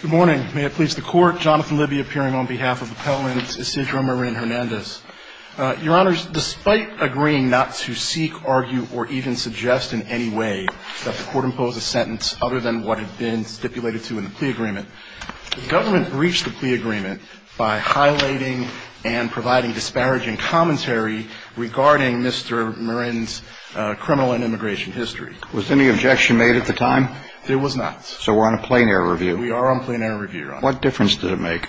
Good morning. May it please the Court, Jonathan Libby appearing on behalf of Appellant Isidro Morin Hernandez. Your Honors, despite agreeing not to seek, argue, or even suggest in any way that the Court impose a sentence other than what had been stipulated to in the plea agreement, the government breached the plea agreement by highlighting and providing disparaging commentary regarding Mr. Morin's criminal and immigration history. Was any objection made at the time? There was not. So we're on a plain air review. We are on plain air review, Your Honor. What difference did it make?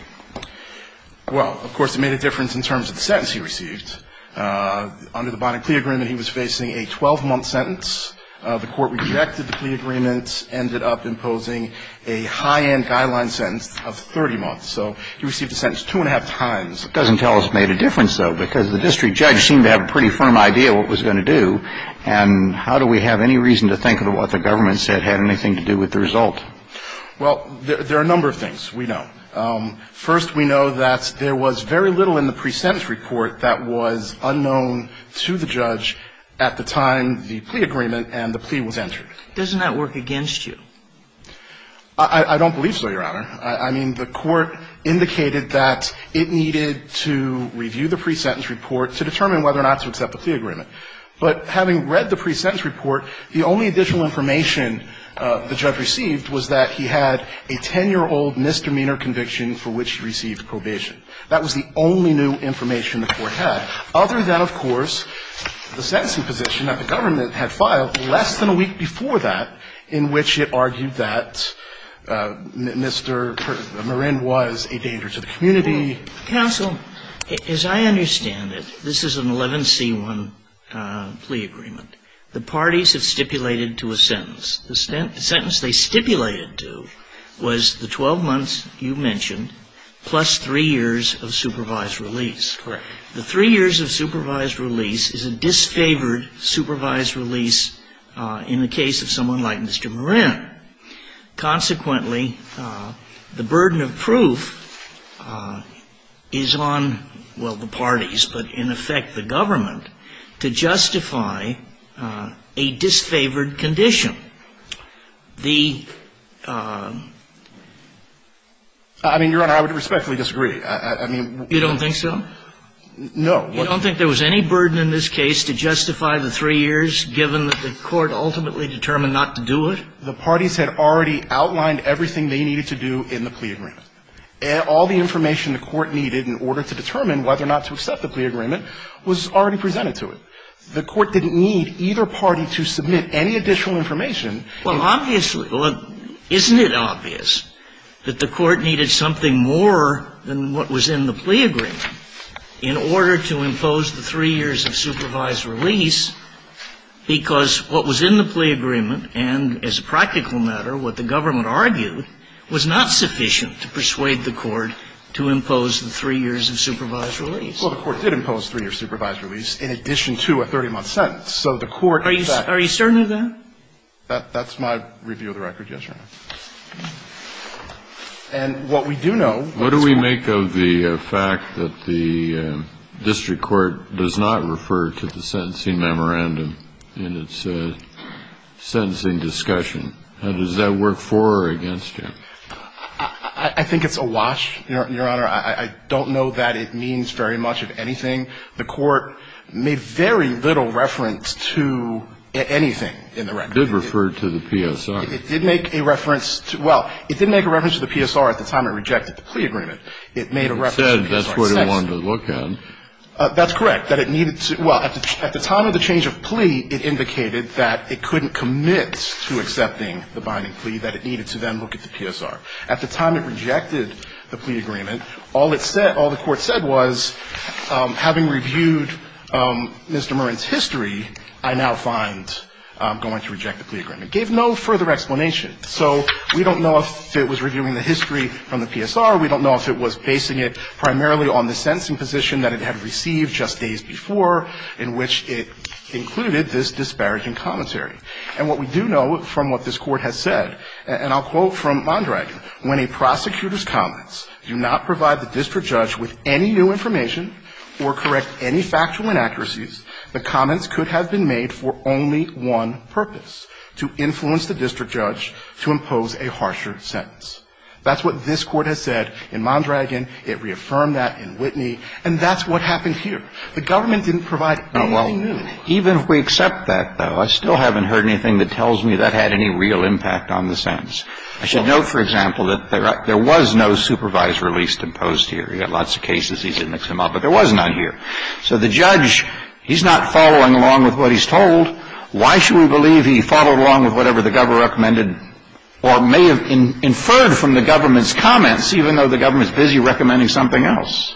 Well, of course, it made a difference in terms of the sentence he received. Under the bond and plea agreement, he was facing a 12-month sentence. The Court rejected the plea agreement, ended up imposing a high-end guideline sentence of 30 months. So he received a sentence two and a half times. It doesn't tell us it made a difference, though, because the district judge seemed to have a pretty firm idea of what it was going to do. And how do we have any reason to think that what the government said had anything to do with the result? Well, there are a number of things we know. First, we know that there was very little in the pre-sentence report that was unknown to the judge at the time the plea agreement and the plea was entered. Doesn't that work against you? I don't believe so, Your Honor. I mean, the Court indicated that it needed to review the pre-sentence report to determine whether or not to accept the plea agreement. But having read the pre-sentence report, the only additional information the judge received was that he had a 10-year-old misdemeanor conviction for which he received probation. That was the only new information the Court had, other than, of course, the sentencing position that the government had filed less than a week before that, in which it argued that Mr. Marin was a danger to the community. Counsel, as I understand it, this is an 11C1 plea agreement. The parties have stipulated to a sentence. The sentence they stipulated to was the 12 months you mentioned, plus three years of supervised release. Correct. The three years of supervised release is a disfavored supervised release in the case of someone like Mr. Marin. Consequently, the burden of proof is on, well, the parties, but in effect the government, to justify a disfavored condition. The ---- I mean, Your Honor, I would respectfully disagree. I mean ---- You don't think so? No. You don't think there was any burden in this case to justify the three years, given that the Court ultimately determined not to do it? The Court ultimately determined not to do it. The parties had already outlined everything they needed to do in the plea agreement. All the information the Court needed in order to determine whether or not to accept the plea agreement was already presented to it. The Court didn't need either party to submit any additional information. Well, obviously. Isn't it obvious that the Court needed something more than what was in the plea agreement in order to impose the three years of supervised release? Because what was in the plea agreement, and as a practical matter, what the government argued, was not sufficient to persuade the Court to impose the three years of supervised release. Well, the Court did impose three years of supervised release in addition to a 30-month sentence. So the Court in fact ---- Are you certain of that? That's my review of the record, yes, Your Honor. And what we do know ---- What do we make of the fact that the district court does not refer to the sentencing memorandum in its sentencing discussion? Does that work for or against you? I think it's a wash, Your Honor. I don't know that it means very much of anything. The Court made very little reference to anything in the record. It did refer to the PSR. It did make a reference to the PSR at the time it rejected the plea agreement. It made a reference to the PSR. It said that's what it wanted to look at. That's correct, that it needed to ---- Well, at the time of the change of plea, it indicated that it couldn't commit to accepting the binding plea, that it needed to then look at the PSR. At the time it rejected the plea agreement, all it said, all the Court said was, having reviewed Mr. Murren's history, I now find I'm going to reject the plea agreement. It gave no further explanation. So we don't know if it was reviewing the history from the PSR. We don't know if it was basing it primarily on the sentencing position that it had received just days before in which it included this disparaging commentary. And what we do know from what this Court has said, and I'll quote from Mondragon, when a prosecutor's comments do not provide the district judge with any new information or correct any factual inaccuracies, the comments could have been made for only one purpose, to influence the district judge to impose a harsher sentence. That's what this Court has said in Mondragon. It reaffirmed that in Whitney. And that's what happened here. The government didn't provide anything new. Even if we accept that, though, I still haven't heard anything that tells me that had any real impact on the sentence. I should note, for example, that there was no supervised release imposed here. You've got lots of cases. These didn't come up. But there was none here. So the judge, he's not following along with what he's told. Why should we believe he followed along with whatever the government recommended or may have inferred from the government's comments, even though the government's busy recommending something else?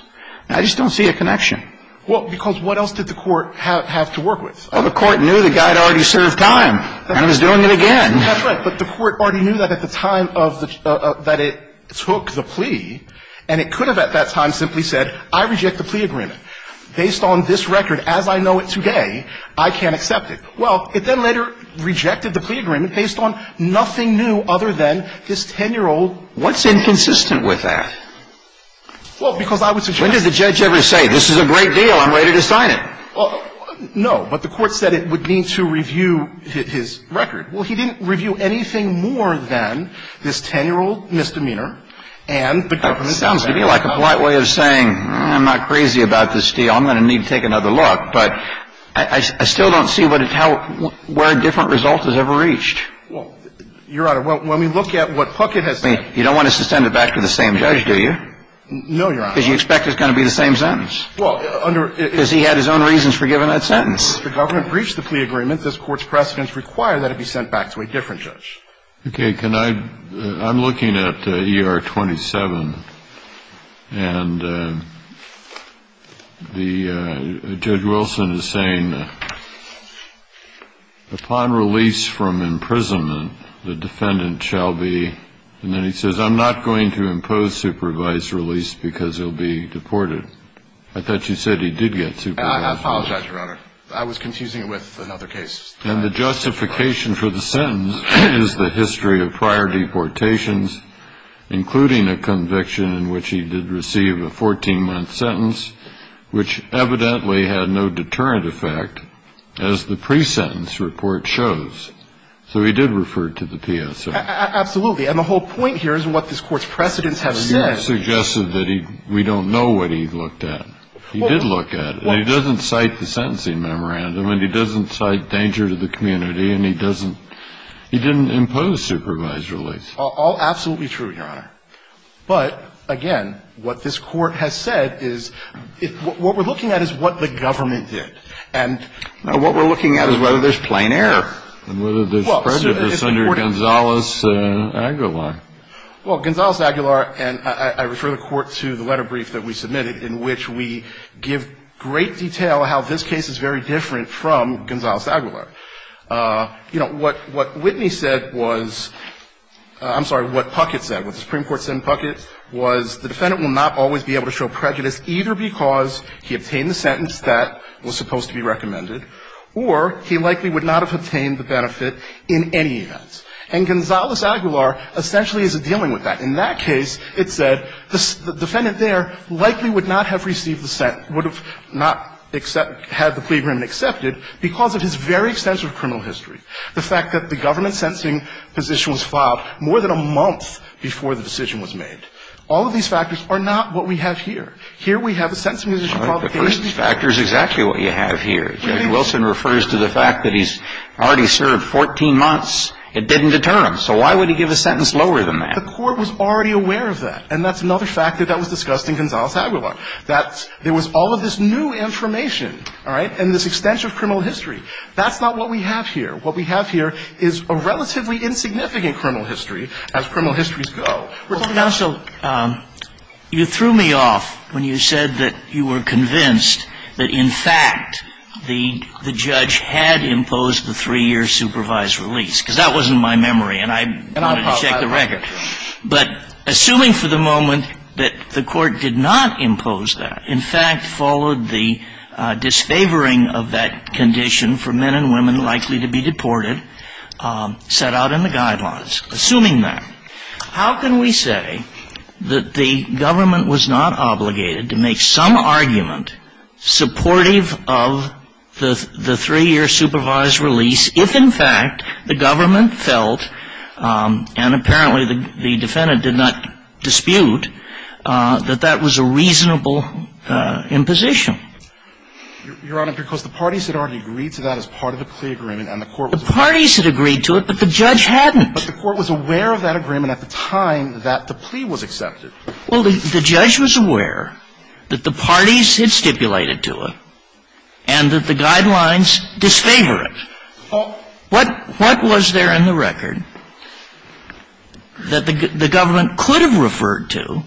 I just don't see a connection. Well, because what else did the Court have to work with? Well, the Court knew the guy had already served time and was doing it again. That's right. But the Court already knew that at the time of the – that it took the plea. And it could have at that time simply said, I reject the plea agreement. Based on this record as I know it today, I can't accept it. Well, it then later rejected the plea agreement based on nothing new other than this 10-year-old – What's inconsistent with that? Well, because I would suggest – When did the judge ever say, this is a great deal, I'm ready to sign it? No. But the Court said it would need to review his record. Well, he didn't review anything more than this 10-year-old misdemeanor and the government's comments. Well, it sounds to me like a polite way of saying, I'm not crazy about this deal. I'm going to need to take another look. But I still don't see what it – how – where a different result is ever reached. Well, Your Honor, when we look at what Puckett has said – You don't want us to send it back to the same judge, do you? No, Your Honor. Because you expect it's going to be the same sentence. Well, under – Because he had his own reasons for giving that sentence. Well, if the government breached the plea agreement, this Court's precedents require that it be sent back to a different judge. Okay. Can I – I'm looking at ER 27. And the – Judge Wilson is saying, upon release from imprisonment, the defendant shall be – and then he says, I'm not going to impose supervised release because he'll be deported. I thought you said he did get supervised release. I apologize, Your Honor. I was confusing it with another case. And the justification for the sentence is the history of prior deportations, including a conviction in which he did receive a 14-month sentence, which evidently had no deterrent effect, as the pre-sentence report shows. So he did refer to the PSO. Absolutely. And the whole point here is what this Court's precedents have said. You have suggested that he – we don't know what he looked at. He did look at it. And he doesn't cite the sentencing memorandum, and he doesn't cite danger to the community, and he doesn't – he didn't impose supervised release. All absolutely true, Your Honor. But, again, what this Court has said is – what we're looking at is what the government did. And what we're looking at is whether there's plain error. And whether there's prejudice under Gonzales-Aguilar. Well, Gonzales-Aguilar – and I refer the Court to the letter brief that we submitted in which we give great detail how this case is very different from Gonzales-Aguilar. You know, what – what Whitney said was – I'm sorry, what Puckett said, what the Supreme Court said in Puckett was the defendant will not always be able to show prejudice either because he obtained the sentence that was supposed to be recommended or he likely would not have obtained the benefit in any event. And Gonzales-Aguilar essentially isn't dealing with that. In that case, it said the defendant there likely would not have received the – would have not accept – had the plea agreement accepted because of his very extensive criminal history. The fact that the government sentencing position was filed more than a month before the decision was made. All of these factors are not what we have here. Here we have a sentencing position called – Well, the first factor is exactly what you have here. Judge Wilson refers to the fact that he's already served 14 months. It didn't deter him. So why would he give a sentence lower than that? The court was already aware of that. And that's another fact that that was discussed in Gonzales-Aguilar, that there was all of this new information, all right, and this extensive criminal history. That's not what we have here. What we have here is a relatively insignificant criminal history as criminal histories go. We're talking about – Counsel, you threw me off when you said that you were convinced that in fact the judge had imposed the three-year supervised release because that wasn't in my memory and I wanted to check the record. But assuming for the moment that the court did not impose that, in fact followed the disfavoring of that condition for men and women likely to be deported, set out in the guidelines. Assuming that, how can we say that the government was not obligated to make some argument supportive of the three-year supervised release if in fact the government felt, and apparently the defendant did not dispute, that that was a reasonable imposition? Your Honor, because the parties had already agreed to that as part of the plea agreement and the court was aware of it. The parties had agreed to it, but the judge hadn't. But the court was aware of that agreement at the time that the plea was accepted. Well, the judge was aware that the parties had stipulated to it and that the guidelines disfavor it. What was there in the record that the government could have referred to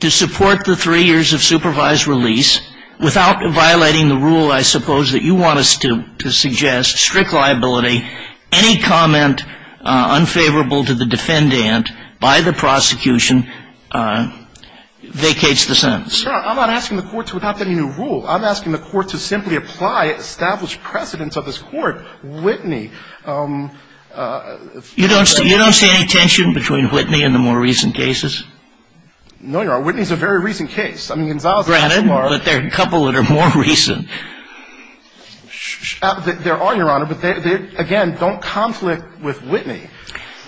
to support the three years of supervised release without violating the rule, I suppose, that you want us to suggest, strict liability, any comment unfavorable to the defendant by the prosecution vacates the sentence? Your Honor, I'm not asking the court to adopt any new rule. I'm asking the court to simply apply established precedence of this court. Whitney ---- You don't see any tension between Whitney and the more recent cases? No, Your Honor. Whitney is a very recent case. I mean, Gonzales ---- Granted, but there are a couple that are more recent. There are, Your Honor, but again, don't conflict with Whitney.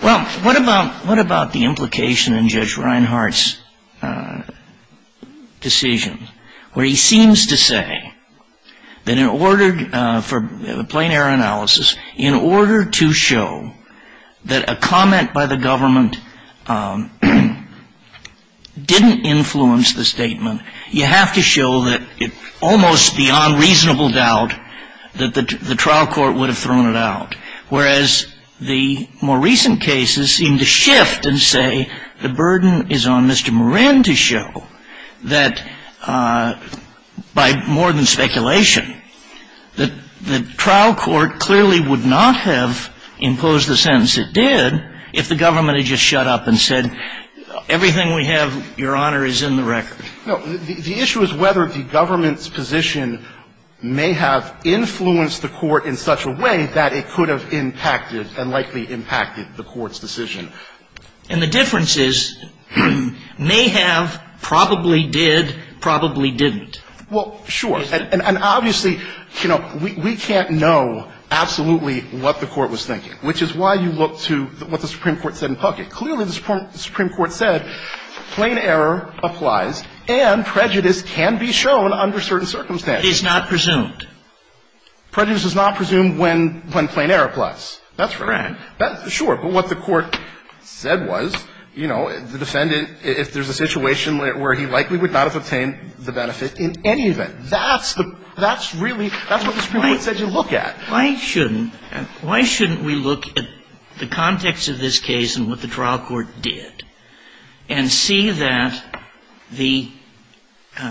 Well, what about the implication in Judge Reinhart's decision where he seems to say that in order for plain error analysis, in order to show that a comment by the government didn't influence the statement, you have to show that it's almost beyond reasonable doubt that the trial court would have thrown it out, whereas the more recent cases seem to shift and say the burden is on Mr. Moran to show that by more than speculation, the trial court clearly would not have imposed the sentence it did if the government had just shut up and said everything we have, Your Honor, is in the record. No. The issue is whether the government's position may have influenced the court in such a way that it could have impacted and likely impacted the court's decision. And the difference is may have, probably did, probably didn't. Well, sure. And obviously, you know, we can't know absolutely what the Court was thinking, which is why you look to what the Supreme Court said in Puckett. Clearly, the Supreme Court said plain error applies and prejudice can be shown under certain circumstances. Is not presumed. Prejudice is not presumed when plain error applies. That's right. Sure. But what the Court said was, you know, the defendant, if there's a situation where he likely would not have obtained the benefit in any event, that's the, that's really, that's what the Supreme Court said you look at. Why shouldn't we look at the context of this case and what the trial court did and see that the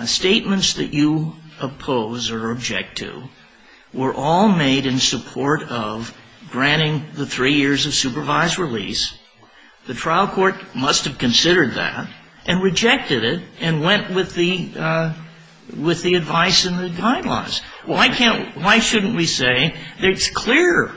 statements that you oppose or object to were all made in support of granting the three years of supervised release. The trial court must have considered that and rejected it and went with the, with the advice and the timelines. Why can't, why shouldn't we say it's clear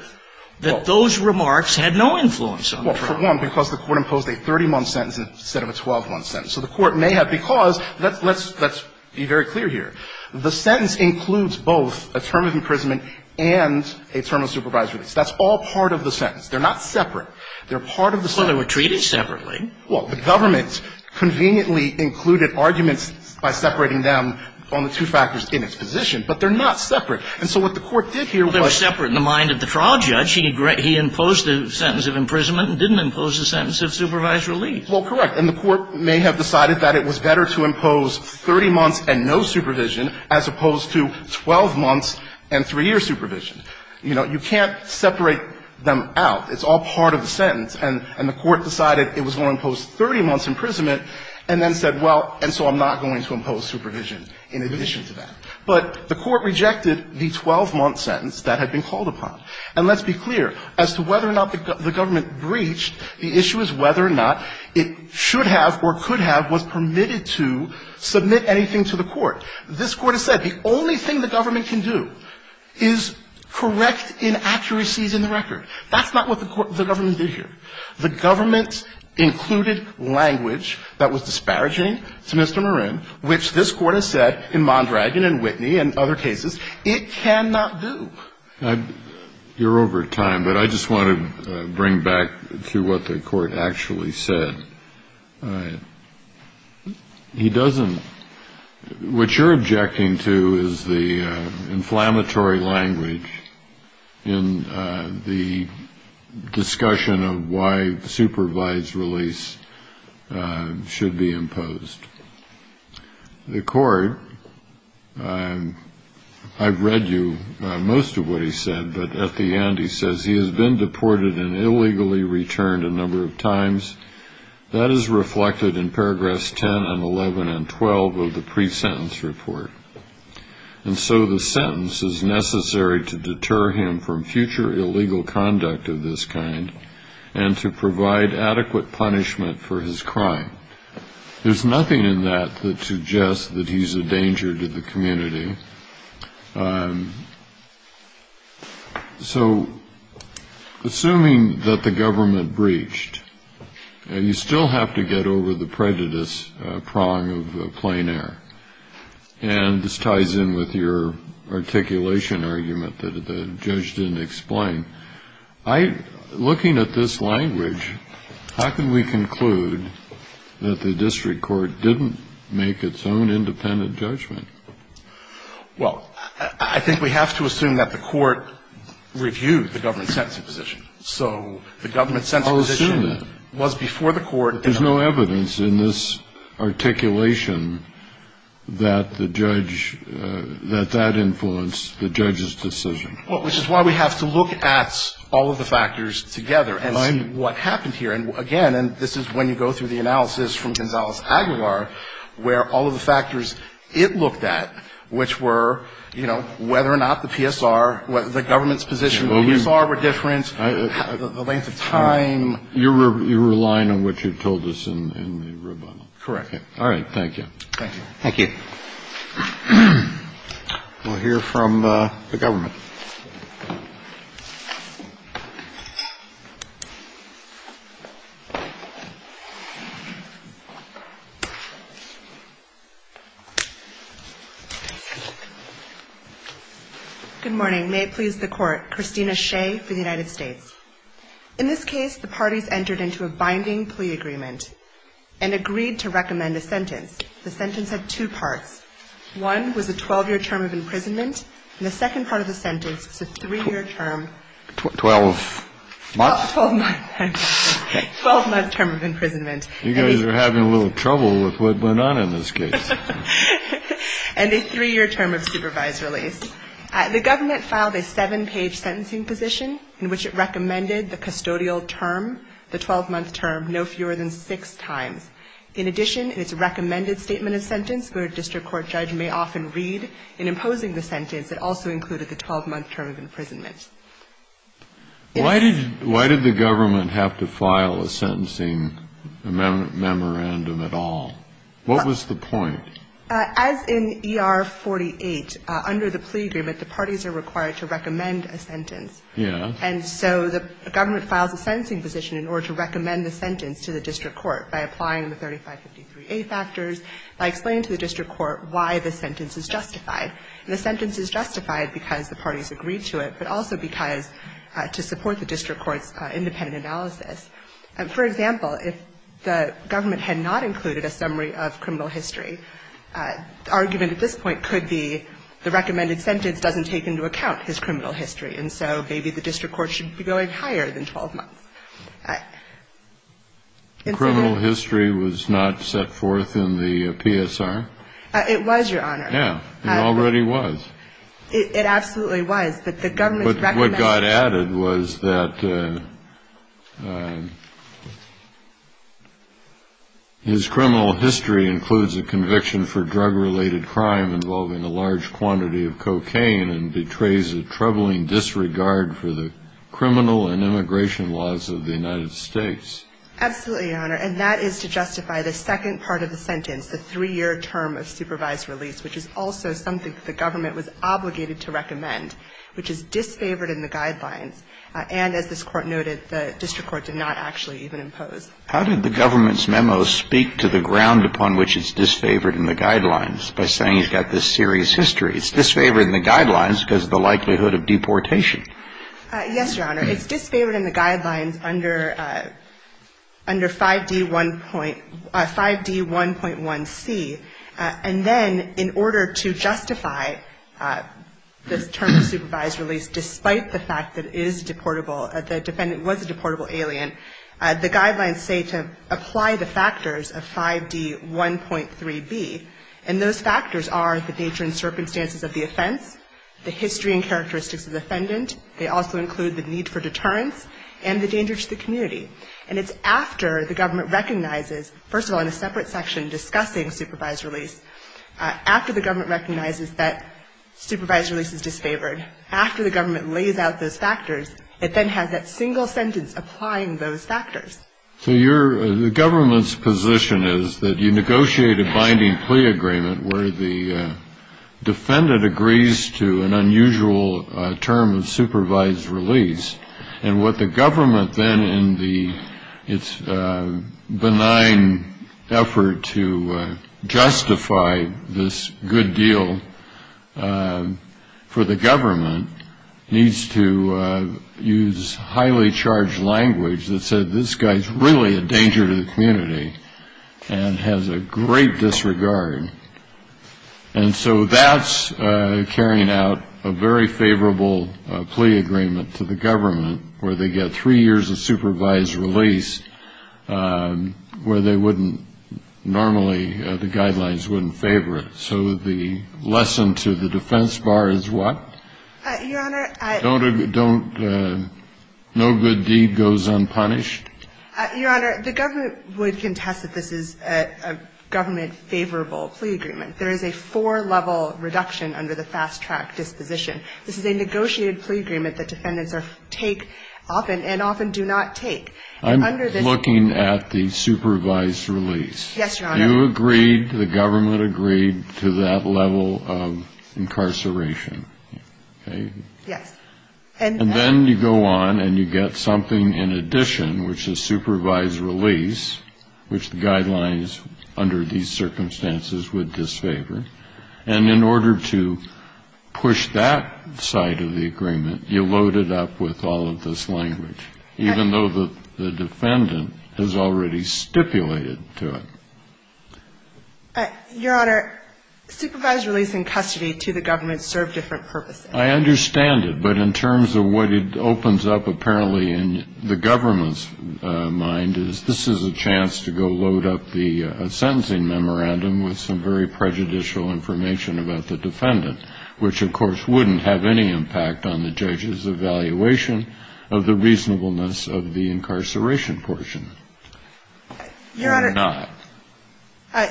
that those remarks had no influence on the trial? Well, for one, because the Court imposed a 30-month sentence instead of a 12-month sentence. So the Court may have, because let's, let's, let's be very clear here. The sentence includes both a term of imprisonment and a term of supervised release. That's all part of the sentence. They're not separate. They're part of the sentence. Well, they were treated separately. Well, the government conveniently included arguments by separating them on the two factors in its position. But they're not separate. And so what the Court did here was. They were separate in the mind of the trial judge. He imposed the sentence of imprisonment and didn't impose the sentence of supervised release. Well, correct. And the Court may have decided that it was better to impose 30 months and no supervision as opposed to 12 months and three-year supervision. You know, you can't separate them out. It's all part of the sentence. And the Court decided it was going to impose 30 months' imprisonment and then said, well, and so I'm not going to impose supervision in addition to that. But the Court rejected the 12-month sentence that had been called upon. And let's be clear. As to whether or not the government breached, the issue is whether or not it should have or could have was permitted to submit anything to the Court. This Court has said the only thing the government can do is correct inaccuracies in the record. That's not what the government did here. The government included language that was disparaging to Mr. Marin, which this Court has said in Mondragon and Whitney and other cases it cannot do. You're over time, but I just want to bring back to what the Court actually said. He doesn't. What you're objecting to is the inflammatory language in the discussion of why supervised release should be imposed. The Court, I've read you most of what he said, but at the end he says he has been deported and illegally returned a number of times. That is reflected in paragraphs 10 and 11 and 12 of the pre-sentence report. And so the sentence is necessary to deter him from future illegal conduct of this kind and to provide adequate punishment for his crime. There's nothing in that that suggests that he's a danger to the community. So assuming that the government breached, you still have to get over the prejudice prong of plain air. And this ties in with your articulation argument that the judge didn't explain. Looking at this language, how can we conclude that the district court didn't make its own independent judgment? Well, I think we have to assume that the Court reviewed the government's sentencing position. So the government's sentencing position was before the Court. There's no evidence in this articulation that the judge, that that influenced the judge's decision. Which is why we have to look at all of the factors together and see what happened here. And again, and this is when you go through the analysis from Gonzales-Aguilar, where all of the factors it looked at, which were, you know, whether or not the PSR, whether the government's position of the PSR were different, the length of time. You're relying on what you told us in the rebuttal. Correct. Thank you. Thank you. Thank you. We'll hear from the government. Good morning. May it please the Court. Christina Shea for the United States. In this case, the parties entered into a binding plea agreement and agreed to recommend a sentence. The sentence had two parts. One was a 12-year term of imprisonment. And the second part of the sentence was a three-year term. Twelve months? Twelve months. Twelve-month term of imprisonment. You guys are having a little trouble with what went on in this case. And a three-year term of supervised release. The government filed a seven-page sentencing position in which it recommended the custodial term, the 12-month term, no fewer than six times. In addition, it's a recommended statement of sentence where a district court judge may often read. In imposing the sentence, it also included the 12-month term of imprisonment. Why did the government have to file a sentencing memorandum at all? What was the point? As in ER-48, under the plea agreement, the parties are required to recommend a sentence. Yes. And so the government files a sentencing position in order to recommend the sentence to the district court by applying the 3553A factors, by explaining to the district court why the sentence is justified. And the sentence is justified because the parties agreed to it, but also because to support the district court's independent analysis. For example, if the government had not included a summary of criminal history, the argument at this point could be the recommended sentence doesn't take into account his criminal history. And so maybe the district court should be going higher than 12 months. The criminal history was not set forth in the PSR? It was, Your Honor. Yeah. It already was. It absolutely was. But the government's recommendation. But what got added was that his criminal history includes a conviction for drug-related crime involving a large quantity of cocaine and betrays a troubling disregard for the criminal and immigration laws of the United States. Absolutely, Your Honor. And that is to justify the second part of the sentence, the three-year term of supervised release, which is also something that the government was obligated to recommend, which is disfavored in the guidelines. And as this Court noted, the district court did not actually even impose. How did the government's memo speak to the ground upon which it's disfavored in the guidelines by saying he's got this serious history? It's disfavored in the guidelines because of the likelihood of deportation. Yes, Your Honor. It's disfavored in the guidelines under 5D1.1C. And then in order to justify the term of supervised release despite the fact that it is deportable, the defendant was a deportable alien, the guidelines say to apply the factors of 5D1.3B. And those factors are the nature and circumstances of the offense, the history and characteristics of the defendant. They also include the need for deterrence and the danger to the community. And it's after the government recognizes, first of all, in a separate section discussing supervised release, after the government recognizes that supervised release is disfavored, after the government lays out those factors, it then has that single sentence applying those factors. So the government's position is that you negotiate a binding plea agreement where the defendant agrees to an unusual term of supervised release. And what the government then in its benign effort to justify this good deal for the government needs to use highly charged language that says this guy's really a danger to the community and has a great disregard. And so that's carrying out a very favorable plea agreement to the government where they get three years of supervised release where they wouldn't normally, the guidelines wouldn't favor it. So the lesson to the defense bar is what? Your Honor, I don't. No good deed goes unpunished? Your Honor, the government would contest that this is a government favorable plea agreement. There is a four-level reduction under the fast-track disposition. This is a negotiated plea agreement that defendants take often and often do not take. I'm looking at the supervised release. Yes, Your Honor. You agreed, the government agreed to that level of incarceration, okay? Yes. And then you go on and you get something in addition, which is supervised release, which the guidelines under these circumstances would disfavor. And in order to push that side of the agreement, you load it up with all of this language, even though the defendant has already stipulated to it. Your Honor, supervised release and custody to the government serve different purposes. I understand it. But in terms of what it opens up apparently in the government's mind is this is a chance to go load up the sentencing memorandum with some very prejudicial information about the defendant, which, of course, wouldn't have any impact on the judge's evaluation of the reasonableness of the incarceration portion. It would not.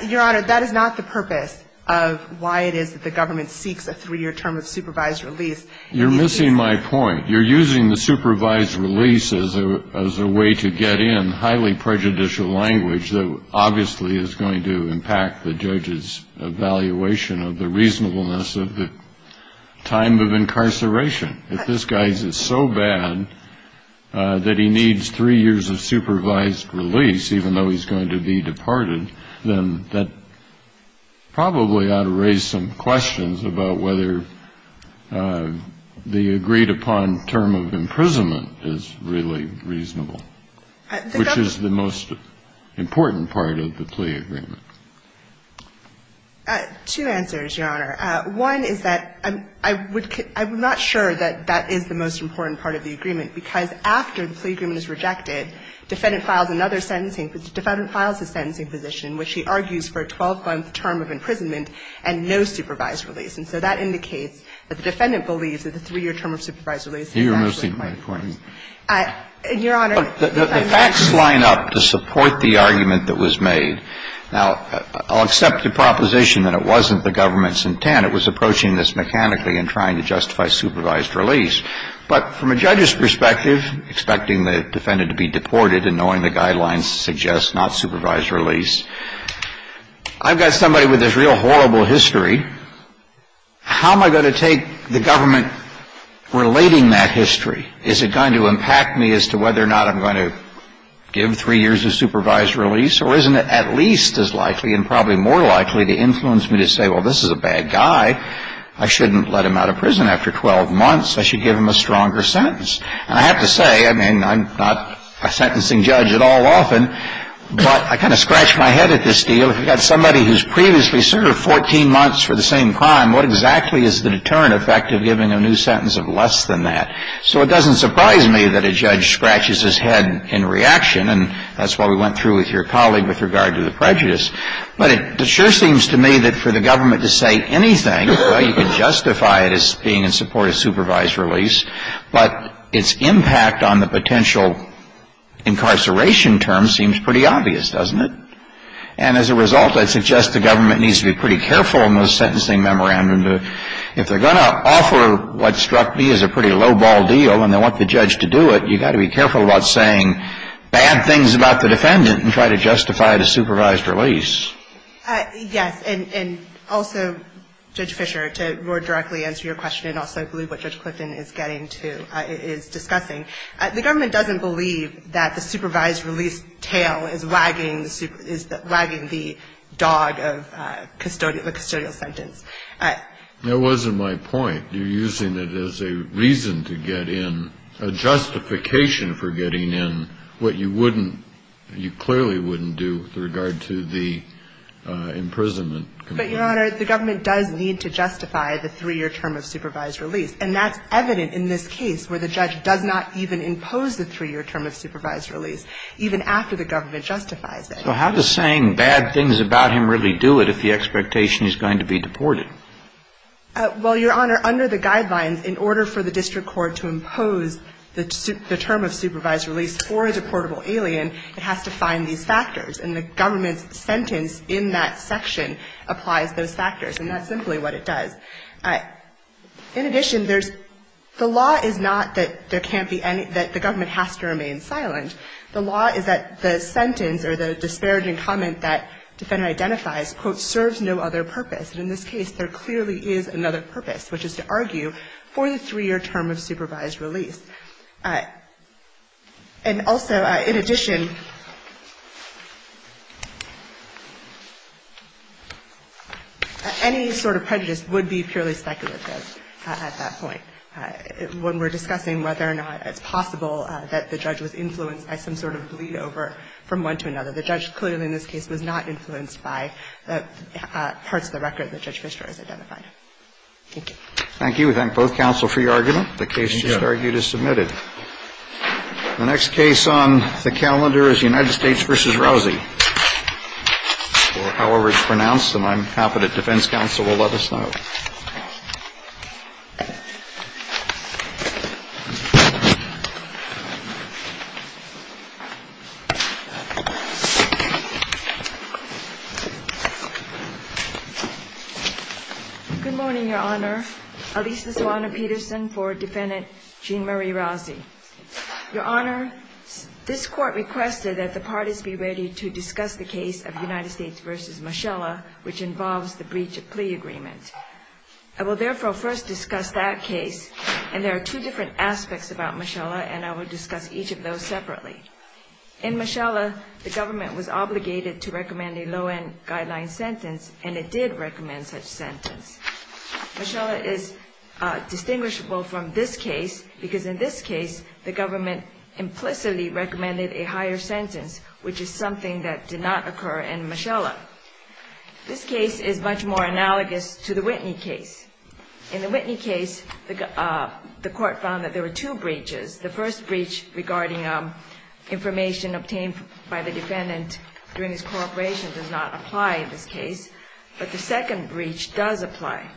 Your Honor, that is not the purpose of why it is that the government seeks a three-year term of supervised release. You're missing my point. You're using the supervised release as a way to get in highly prejudicial language that obviously is going to impact the judge's evaluation of the reasonableness of the time of incarceration. If this guy is so bad that he needs three years of supervised release, even though he's going to be departed, then that probably ought to raise some questions about whether the agreed-upon term of imprisonment is really reasonable, which is the most important part of the plea agreement. Two answers, Your Honor. One is that I'm not sure that that is the most important part of the agreement, because after the plea agreement is rejected, defendant files another sentencing the defendant files a sentencing position in which he argues for a 12-month term of imprisonment and no supervised release. And so that indicates that the defendant believes that the three-year term of supervised release is actually important. You're missing my point. Your Honor. The facts line up to support the argument that was made. Now, I'll accept the proposition that it wasn't the government's intent. It was approaching this mechanically and trying to justify supervised release. But from a judge's perspective, expecting the defendant to be deported and knowing the guidelines to suggest not supervised release, I've got somebody with this real horrible history. How am I going to take the government relating that history? Is it going to impact me as to whether or not I'm going to give three years of supervised release? Or isn't it at least as likely and probably more likely to influence me to say, well, this is a bad guy. I shouldn't let him out of prison after 12 months. I should give him a stronger sentence. And I have to say, I mean, I'm not a sentencing judge at all often, but I kind of scratched my head at this deal. If you've got somebody who's previously served 14 months for the same crime, what exactly is the deterrent effect of giving a new sentence of less than that? So it doesn't surprise me that a judge scratches his head in reaction. And that's what we went through with your colleague with regard to the prejudice. But it sure seems to me that for the government to say anything, well, you can justify it as being in support of supervised release, but its impact on the potential incarceration term seems pretty obvious, doesn't it? And as a result, I'd suggest the government needs to be pretty careful in those sentencing memorandums. If they're going to offer what struck me as a pretty lowball deal and they want the judge to do it, you've got to be careful about saying bad things about the defendant and try to justify the supervised release. Yes. And also, Judge Fischer, to more directly answer your question and also I believe what Judge Clifton is getting to, is discussing, the government doesn't believe that the supervised release tail is wagging the dog of custodial, the custodial sentence. That wasn't my point. You're using it as a reason to get in, a justification for getting in what you wouldn't do with regard to the imprisonment. But, Your Honor, the government does need to justify the three-year term of supervised release, and that's evident in this case where the judge does not even impose the three-year term of supervised release, even after the government justifies it. So how does saying bad things about him really do it if the expectation is going to be deported? Well, Your Honor, under the guidelines, in order for the district court to impose the term of supervised release for a deportable alien, it has to find these factors. And the government's sentence in that section applies those factors, and that's simply what it does. In addition, there's the law is not that there can't be any, that the government has to remain silent. The law is that the sentence or the disparaging comment that defendant identifies, quote, serves no other purpose. And in this case, there clearly is another purpose, which is to argue for the three-year term of supervised release. And also, in addition, any sort of prejudice would be purely speculative at that point when we're discussing whether or not it's possible that the judge was influenced by some sort of bleed over from one to another. The judge clearly in this case was not influenced by the parts of the record that Judge Fisher has identified. Thank you. Thank you. We thank both counsel for your argument. The case just argued is submitted. The next case on the calendar is United States v. Rousey. Or however it's pronounced, and I'm happy that defense counsel will let us know. Good morning, Your Honor. Alisa Solano-Peterson for Defendant Jean Marie Rousey. Your Honor, this Court requested that the parties be ready to discuss the case of United States v. Moschella, which involves the breach of plea agreement. I will therefore first discuss that case, and there are two different aspects about Moschella, and I will discuss each of those separately. In Moschella, the government was obligated to recommend a low-end guideline sentence, and it did recommend such sentence. Moschella is distinguishable from this case because in this case, the government implicitly recommended a higher sentence, which is something that did not occur in Moschella. This case is much more analogous to the Whitney case. In the Whitney case, the Court found that there were two breaches. The first breach regarding information obtained by the defendant during his cooperation does not apply in this case, but the second breach does apply,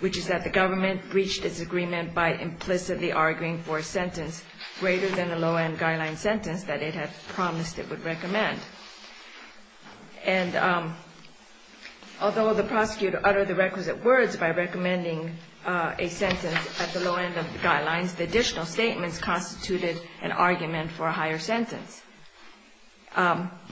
which is that the government breached its agreement by implicitly arguing for a sentence greater than the low-end guideline sentence that it had promised it would recommend. And although the prosecutor uttered the requisite words by recommending a sentence at the low-end of the guidelines, the additional statements constituted an argument for a higher sentence.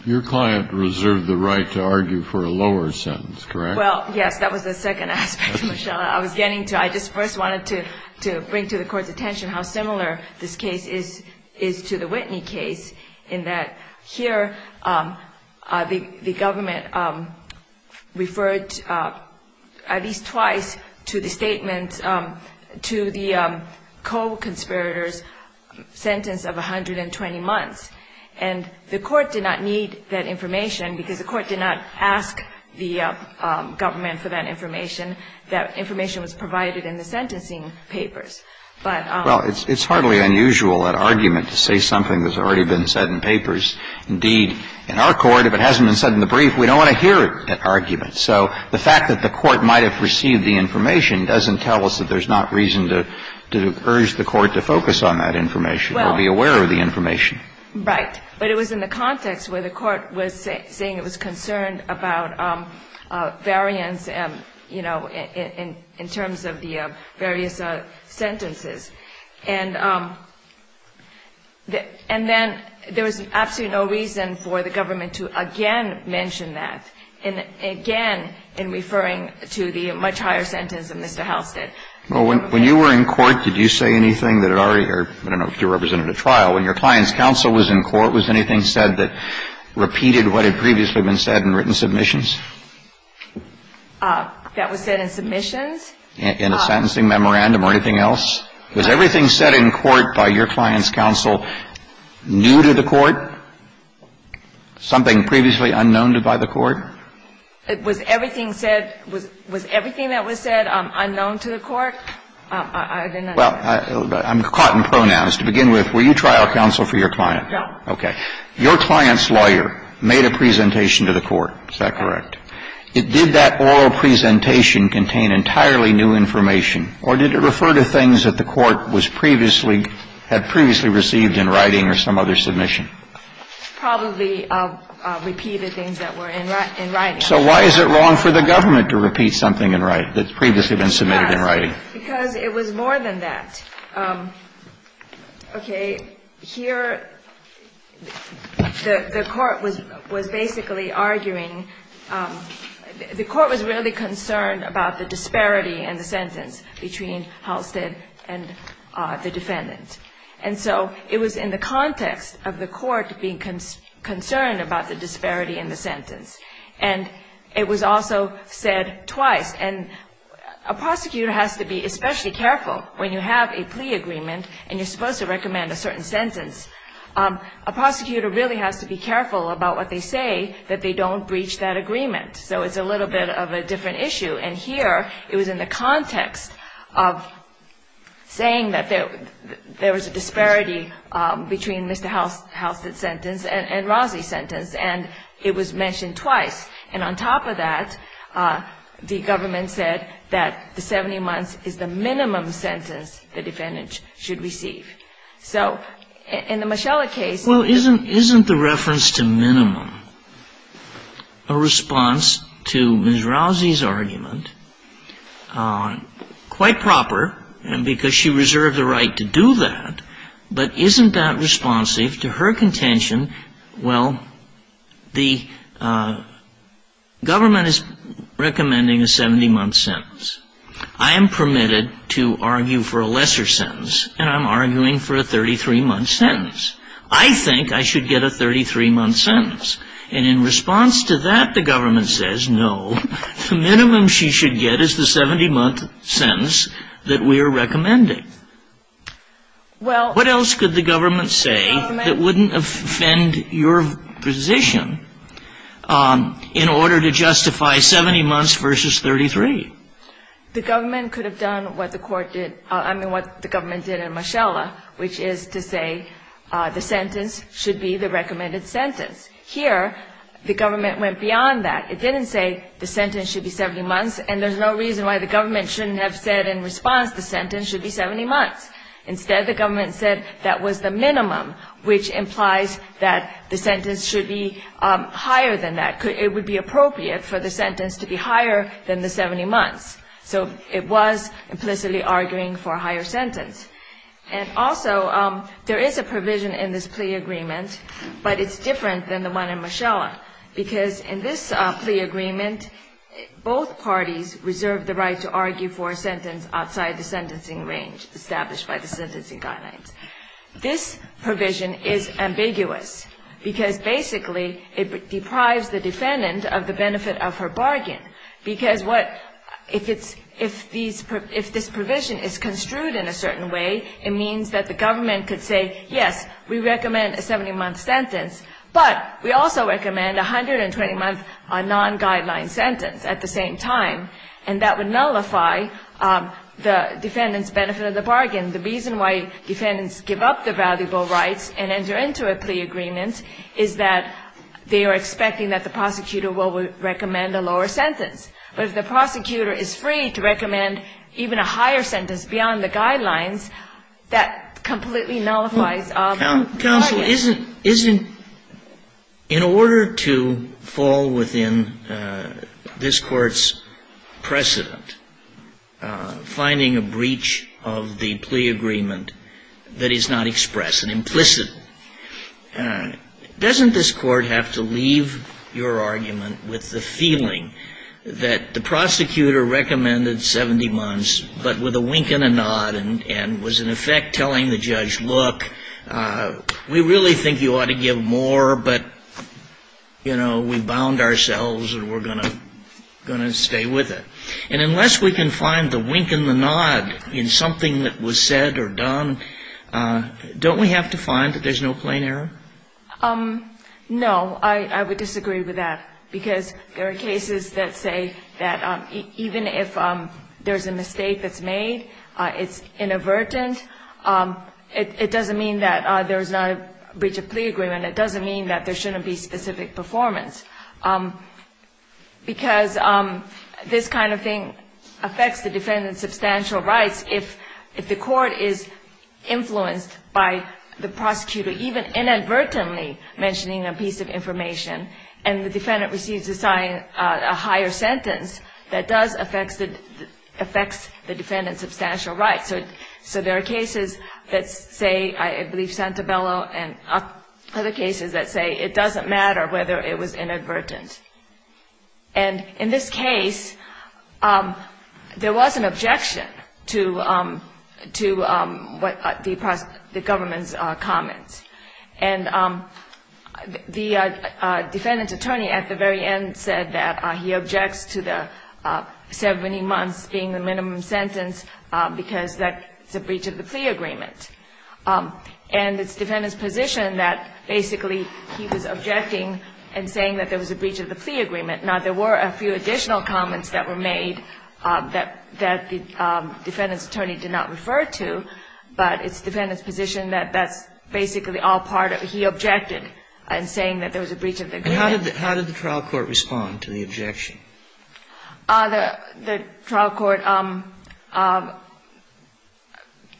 Your client reserved the right to argue for a lower sentence, correct? Well, yes, that was the second aspect, Moschella. I was getting to it. I just first wanted to bring to the Court's attention how similar this case is to the Whitney case. In the Whitney case, the government referred at least twice to the statement to the co-conspirator's sentence of 120 months. And the Court did not need that information because the Court did not ask the government for that information. That information was provided in the sentencing papers. But the Court did not need that information because the Court did not ask the government for that information. And I think that's something that we've been saying in papers. Indeed, in our Court, if it hasn't been said in the brief, we don't want to hear that argument. So the fact that the Court might have received the information doesn't tell us that there's not reason to urge the Court to focus on that information or be aware of the information. Right. But it was in the context where the Court was saying it was concerned about variance, you know, in terms of the various sentences. And then there was absolutely no reason for the government to again mention that, and again in referring to the much higher sentence that Mr. House did. Well, when you were in court, did you say anything that already or I don't know if you represented a trial. When your client's counsel was in court, was anything said that repeated what had previously been said in written submissions? That was said in submissions? In a sentencing memorandum or anything else? Was everything said in court by your client's counsel new to the Court, something previously unknown to the Court? Was everything said, was everything that was said unknown to the Court? I didn't understand. Well, I'm caught in pronouns. To begin with, were you trial counsel for your client? No. Okay. Your client's lawyer made a presentation to the Court. Is that correct? Did that oral presentation contain entirely new information, or did it refer to things that the Court was previously, had previously received in writing or some other submission? Probably repeated things that were in writing. So why is it wrong for the government to repeat something in writing that's previously been submitted in writing? Because it was more than that. Okay. Here the Court was basically arguing, the Court was really concerned about the disparity in the sentence between Halstead and the defendant. And so it was in the context of the Court being concerned about the disparity in the sentence. And it was also said twice. And a prosecutor has to be especially careful when you have a plea agreement and you're supposed to recommend a certain sentence. A prosecutor really has to be careful about what they say that they don't breach that agreement. So it's a little bit of a different issue. And here it was in the context of saying that there was a disparity between Mr. Halstead's sentence and Rozzi's sentence. And it was mentioned twice. And on top of that, the government said that the 70 months is the minimum sentence the defendant should receive. So in the Moschella case you can see that. Well, isn't the reference to minimum a response to Ms. Rozzi's argument? Quite proper, because she reserved the right to do that. But isn't that responsive to her contention? Well, the government is recommending a 70-month sentence. I am permitted to argue for a lesser sentence, and I'm arguing for a 33-month sentence. I think I should get a 33-month sentence. And in response to that, the government says, no, the minimum she should get is the 70-month sentence that we are recommending. What else could the government say that wouldn't offend your position in order to justify 70 months versus 33? The government could have done what the court did, I mean, what the government did in Moschella, which is to say the sentence should be the recommended sentence. Here, the government went beyond that. It didn't say the sentence should be 70 months, and there's no reason why the government shouldn't have said in response the sentence should be 70 months. Instead, the government said that was the minimum, which implies that the sentence should be higher than that. It would be appropriate for the sentence to be higher than the 70 months. So it was implicitly arguing for a higher sentence. And also, there is a provision in this plea agreement, but it's different than the one in Moschella, because in this plea agreement, both parties reserve the right to argue for a sentence outside the sentencing range established by the sentencing guidelines. This provision is ambiguous, because basically it deprives the defendant of the benefit of her bargain. Because if this provision is construed in a certain way, it means that the government could say, yes, we recommend a 70-month sentence, but we also recommend a 120-month non-guideline sentence at the same time. And that would nullify the defendant's benefit of the bargain. The reason why defendants give up their valuable rights and enter into a plea agreement is that they are expecting that the prosecutor will recommend a lower sentence. But if the prosecutor is free to recommend even a higher sentence beyond the guidelines, that completely nullifies the bargain. Counsel, isn't, in order to fall within this Court's precedent, finding a breach of the plea agreement that is not expressed and implicit, doesn't this Court have to leave your argument with the feeling that the prosecutor recommended 70 months, but with a wink and a nod, and was in effect telling the judge, look, we really think you ought to give more, but, you know, we bound ourselves and we're going to stay with it. And unless we can find the wink and the nod in something that was said or done, don't we have to find that there's no plain error? No, I would disagree with that, because there are cases that say that even if there's a mistake that's made, it's inadvertent. It doesn't mean that there's not a breach of plea agreement. It doesn't mean that there shouldn't be specific performance, because this kind of thing affects the defendant's substantial rights. If the Court is influenced by the prosecutor even inadvertently mentioning a piece of information and the defendant receives a higher sentence, that does affect the defendant's substantial rights. So there are cases that say, I believe, Santabello and other cases that say it doesn't matter whether it was inadvertent. And in this case, there was an objection to what the government's comments. And the defendant's attorney at the very end said that he objects to the 70 months being the minimum sentence because that's a breach of the plea agreement. And it's the defendant's position that basically he was objecting and saying that there was a breach of the plea agreement. Now, there were a few additional comments that were made that the defendant's attorney did not refer to, but it's the defendant's position that that's basically all part of it. He objected in saying that there was a breach of the agreement. And how did the trial court respond to the objection? The trial court,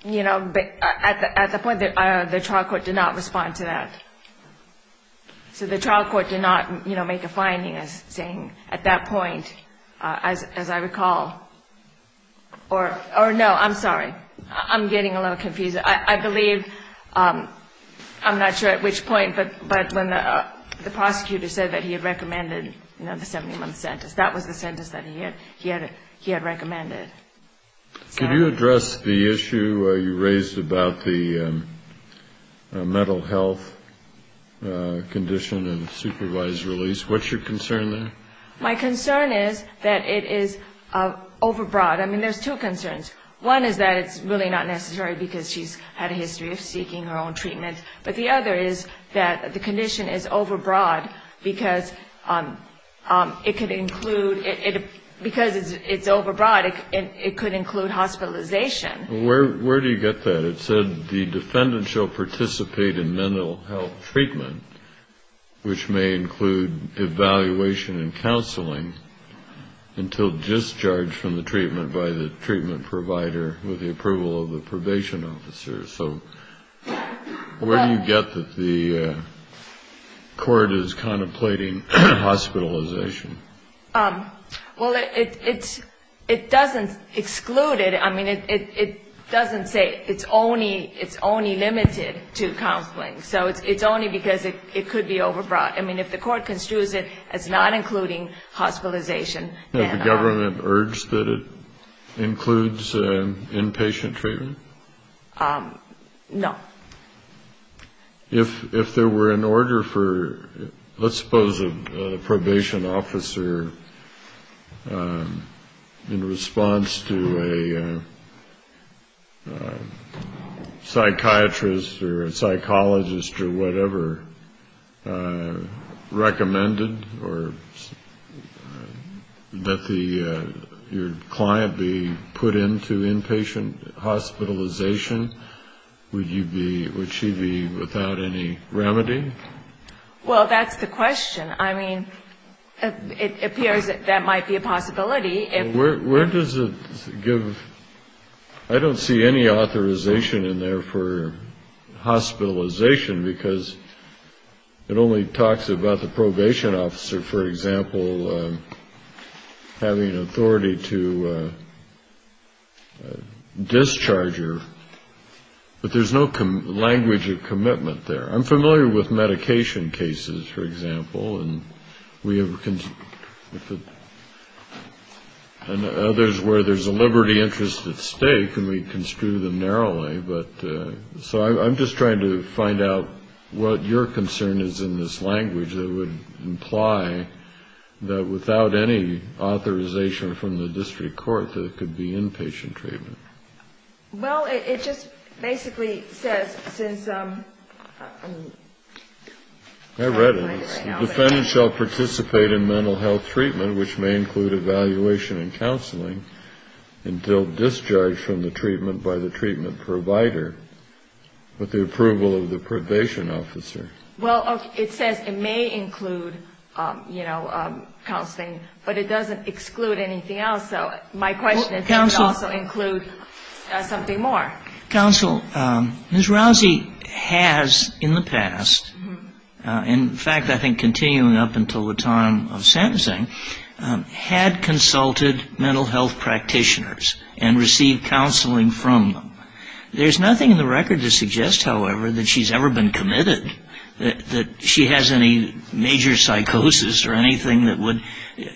you know, at the point, the trial court did not respond to that. So the trial court did not, you know, make a finding as saying at that point, as I recall, or no, I'm sorry. I'm getting a little confused. I believe, I'm not sure at which point, but when the prosecutor said that he had recommended, you know, the 70-month sentence, that was the sentence that he had recommended. Could you address the issue you raised about the mental health condition and supervised release? What's your concern there? My concern is that it is overbroad. I mean, there's two concerns. One is that it's really not necessary because she's had a history of seeking her own treatment. But the other is that the condition is overbroad because it could include, because it's overbroad, it could include hospitalization. Where do you get that? It said the defendant shall participate in mental health treatment, which may include evaluation and counseling, until discharged from the treatment by the treatment provider with the approval of the probation officer. So where do you get that the court is contemplating hospitalization? Well, it doesn't exclude it. I mean, it doesn't say it's only limited to counseling. So it's only because it could be overbroad. I mean, if the court construes it as not including hospitalization. Has the government urged that it includes inpatient treatment? No. If there were an order for, let's suppose a probation officer in response to a psychiatrist or a psychologist or whatever, recommended that your client be put into inpatient hospitalization, would she be without any remedy? Well, that's the question. I mean, it appears that might be a possibility. Where does it give? I don't see any authorization in there for hospitalization because it only talks about the probation officer, for example, having authority to discharge her. But there's no language of commitment there. I'm familiar with medication cases, for example, and we have, and others where there's a liberty interest at stake and we construe them narrowly. But so I'm just trying to find out what your concern is in this language that would imply that without any authorization from the district court that it could be inpatient treatment. Well, it just basically says since. I read it. The defendant shall participate in mental health treatment, which may include evaluation and counseling, until discharged from the treatment by the treatment provider with the approval of the probation officer. Well, it says it may include, you know, counseling, but it doesn't exclude anything else. So my question is does it also include something more? Counsel, Ms. Rousey has in the past, in fact, I think continuing up until the time of sentencing, had consulted mental health practitioners and received counseling from them. There's nothing in the record to suggest, however, that she's ever been committed, that she has any major psychosis or anything that would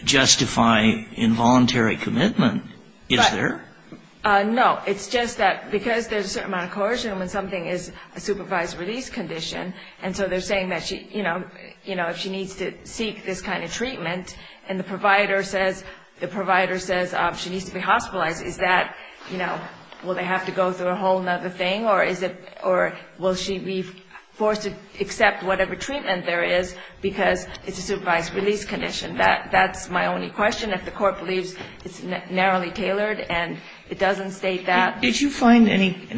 justify involuntary commitment. Is there? No. It's just that because there's a certain amount of coercion when something is a supervised release condition, and so they're saying that, you know, if she needs to seek this kind of treatment and the provider says she needs to be hospitalized, is that, you know, will they have to go through a whole other thing? Or is it or will she be forced to accept whatever treatment there is because it's a supervised release condition? That's my only question. If the Court believes it's narrowly tailored and it doesn't state that. Did you find any?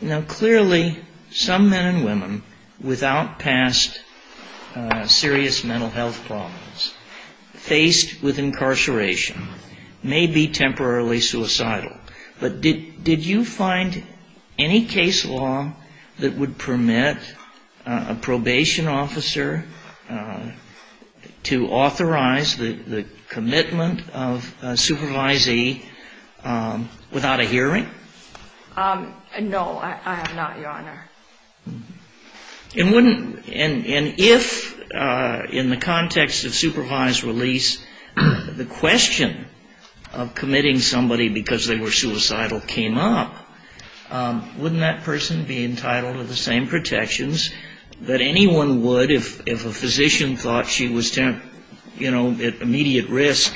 Now, clearly, some men and women without past serious mental health problems faced with incarceration may be temporarily suicidal. But did you find any case law that would permit a probation officer to authorize the commitment of a supervisee without a hearing? No, I have not, Your Honor. And if in the context of supervised release the question of committing somebody because they were suicidal came up, wouldn't that person be entitled to the same protections that anyone would if a physician thought she was, you know, at immediate risk?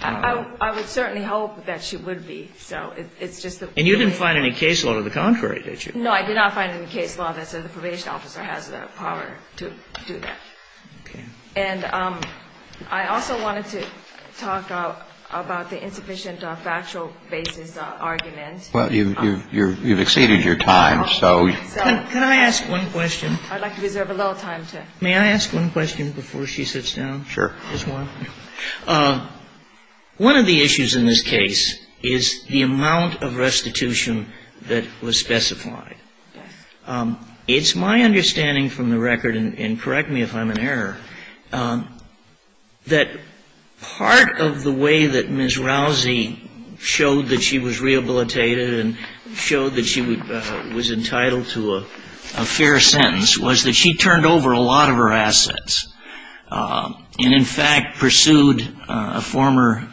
I would certainly hope that she would be. And you didn't find any case law to the contrary, did you? No, I did not find any case law that said the probation officer has the power to do that. Okay. And I also wanted to talk about the insufficient factual basis argument. Well, you've exceeded your time, so. Can I ask one question? I'd like to reserve a little time to. May I ask one question before she sits down? Sure. One of the issues in this case is the amount of restitution that was specified. It's my understanding from the record, and correct me if I'm in error, that part of the way that Ms. Rousey showed that she was rehabilitated and showed that she was entitled to a fair sentence was that she turned over a lot of her assets. And, in fact, pursued a former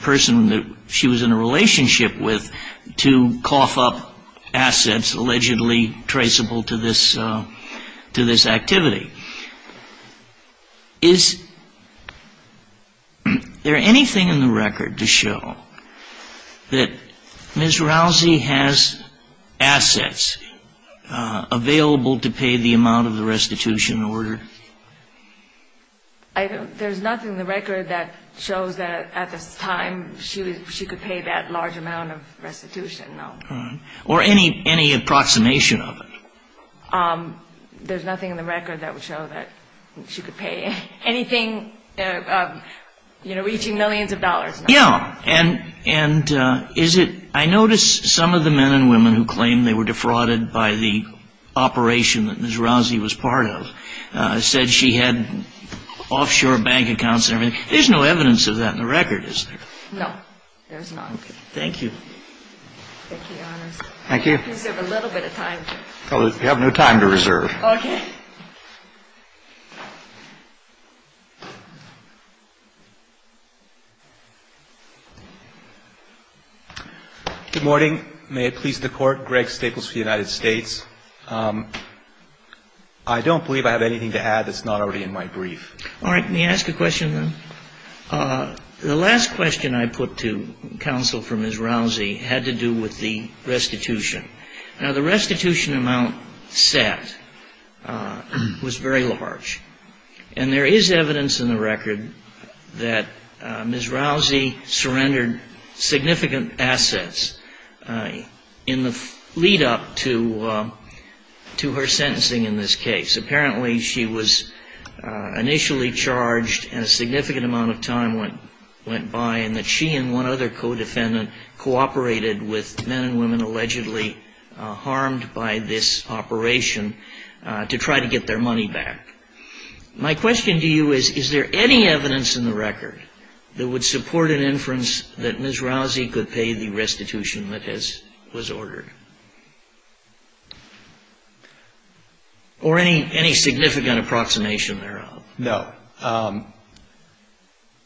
person that she was in a relationship with to cough up assets allegedly traceable to this activity. Is there anything in the record to show that Ms. Rousey has assets available to pay the amount of the restitution order? I don't. There's nothing in the record that shows that at this time she could pay that large amount of restitution, no. All right. Or any approximation of it. There's nothing in the record that would show that she could pay anything, you know, reaching millions of dollars. Yeah. And is it – I notice some of the men and women who claim they were defrauded by the operation that Ms. Rousey was part of said she had offshore bank accounts and everything. There's no evidence of that in the record, is there? No, there's not. Thank you. Thank you, Your Honors. Thank you. I can reserve a little bit of time. You have no time to reserve. Okay. Good morning. May it please the Court. Greg Staples for the United States. I don't believe I have anything to add that's not already in my brief. All right. May I ask a question, then? The last question I put to counsel for Ms. Rousey had to do with the restitution. Now, the restitution amount set was very large. And there is evidence in the record that Ms. Rousey surrendered significant assets in the lead-up to her sentencing in this case. Apparently, she was initially charged and a significant amount of time went by in that she and one other co-defendant cooperated with men and women allegedly harmed by this operation to try to get their money back. My question to you is, is there any evidence in the record that would support an inference that Ms. Rousey could pay the restitution that was ordered? Or any significant approximation thereof? No.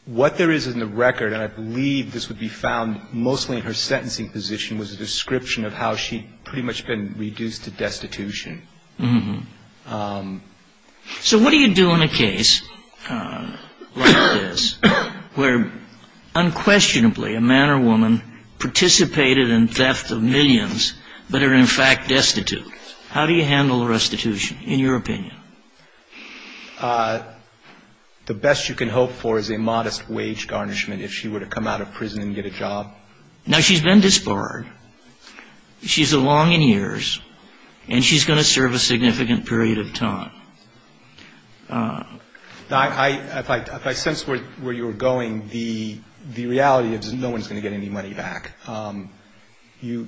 What there is in the record, and I believe this would be found mostly in her sentencing position, was a description of how she had pretty much been reduced to destitution. So what do you do in a case like this where unquestionably a man or woman participated in theft of millions but are in fact destitute? How do you handle restitution, in your opinion? The best you can hope for is a modest wage garnishment if she were to come out of prison and get a job. Now, she's been disbarred. She's a long in years. And she's going to serve a significant period of time. If I sense where you're going, the reality is no one's going to get any money back. You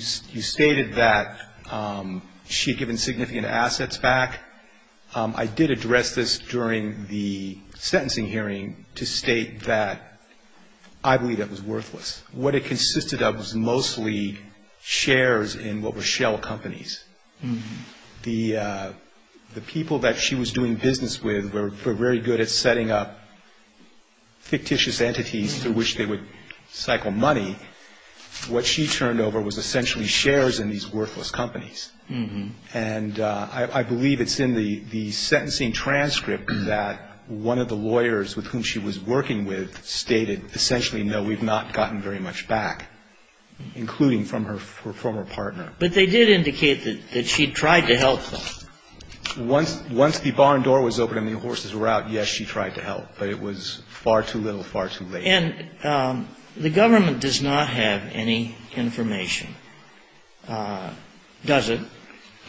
stated that she had given significant assets back. I did address this during the sentencing hearing to state that I believe that was worthless. What it consisted of was mostly shares in what were shell companies. The people that she was doing business with were very good at setting up fictitious entities through which they would cycle money. What she turned over was essentially shares in these worthless companies. And I believe it's in the sentencing transcript that one of the lawyers with whom she was working with stated essentially no, we've not gotten very much back, including from her former partner. But they did indicate that she tried to help them. Once the barn door was open and the horses were out, yes, she tried to help. But it was far too little, far too late. And the government does not have any information, does it,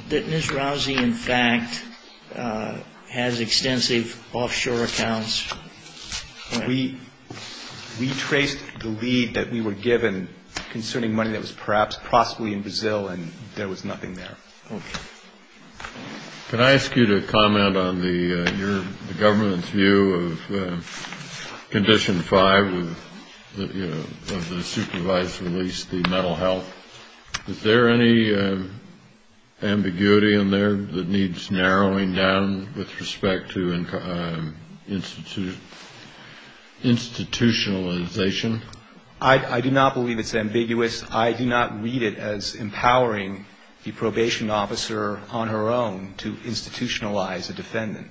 that Ms. Rousey, in fact, has extensive offshore accounts? We traced the lead that we were given concerning money that was perhaps possibly in Brazil, and there was nothing there. Can I ask you to comment on the government's view of Condition 5 of the supervised release, the mental health? Is there any ambiguity in there that needs narrowing down with respect to institutionalization? I do not believe it's ambiguous. I do not read it as empowering the probation officer on her own to institutionalize a defendant.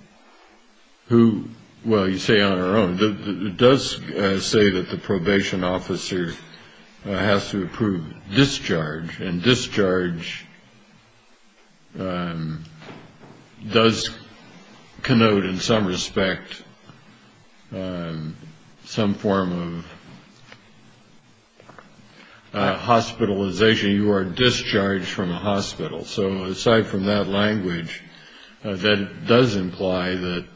Well, you say on her own. It does say that the probation officer has to approve discharge, and discharge does connote in some respect some form of hospitalization. You are discharged from a hospital. So aside from that language, that does imply that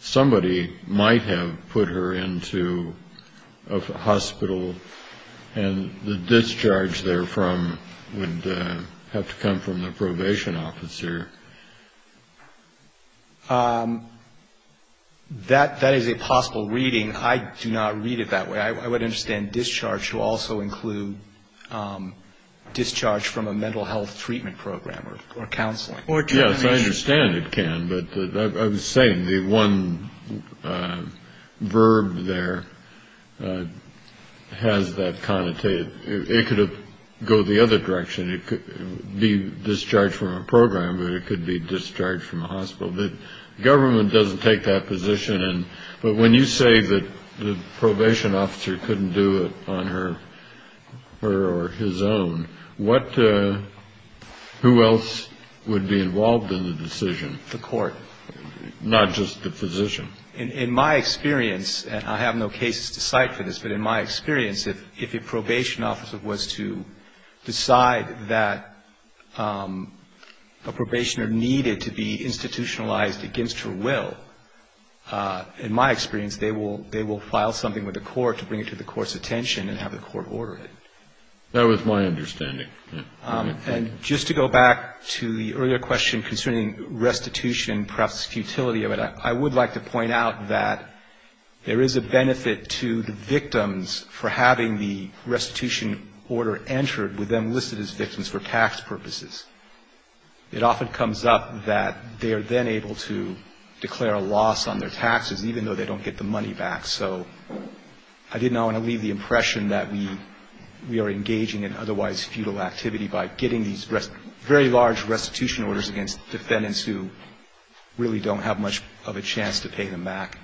somebody might have put her into a hospital, and the discharge therefrom would have to come from the probation officer. That is a possible reading. I do not read it that way. I would understand discharge will also include discharge from a mental health treatment program or counseling. Yes, I understand it can, but I was saying the one verb there has that connotation. It could go the other direction. It could be discharge from a program, but it could be discharge from a hospital. The government doesn't take that position. But when you say that the probation officer couldn't do it on her or his own, who else would be involved in the decision? The court. Not just the physician. In my experience, and I have no cases to cite for this, but in my experience, if a probation officer was to decide that a probationer needed to be institutionalized against her will, in my experience they will file something with the court to bring it to the court's attention and have the court order it. That was my understanding. And just to go back to the earlier question concerning restitution, perhaps the futility of it, I would like to point out that there is a benefit to the victims for having the restitution order entered with them listed as victims for tax purposes. It often comes up that they are then able to declare a loss on their taxes, even though they don't get the money back. So I did not want to leave the impression that we are engaging in otherwise futile activity by getting these very large restitution orders against defendants who really don't have much of a chance to pay them back.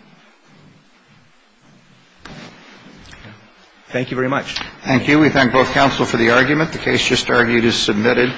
Thank you very much. Thank you. We thank both counsel for the argument. The case just argued is submitted.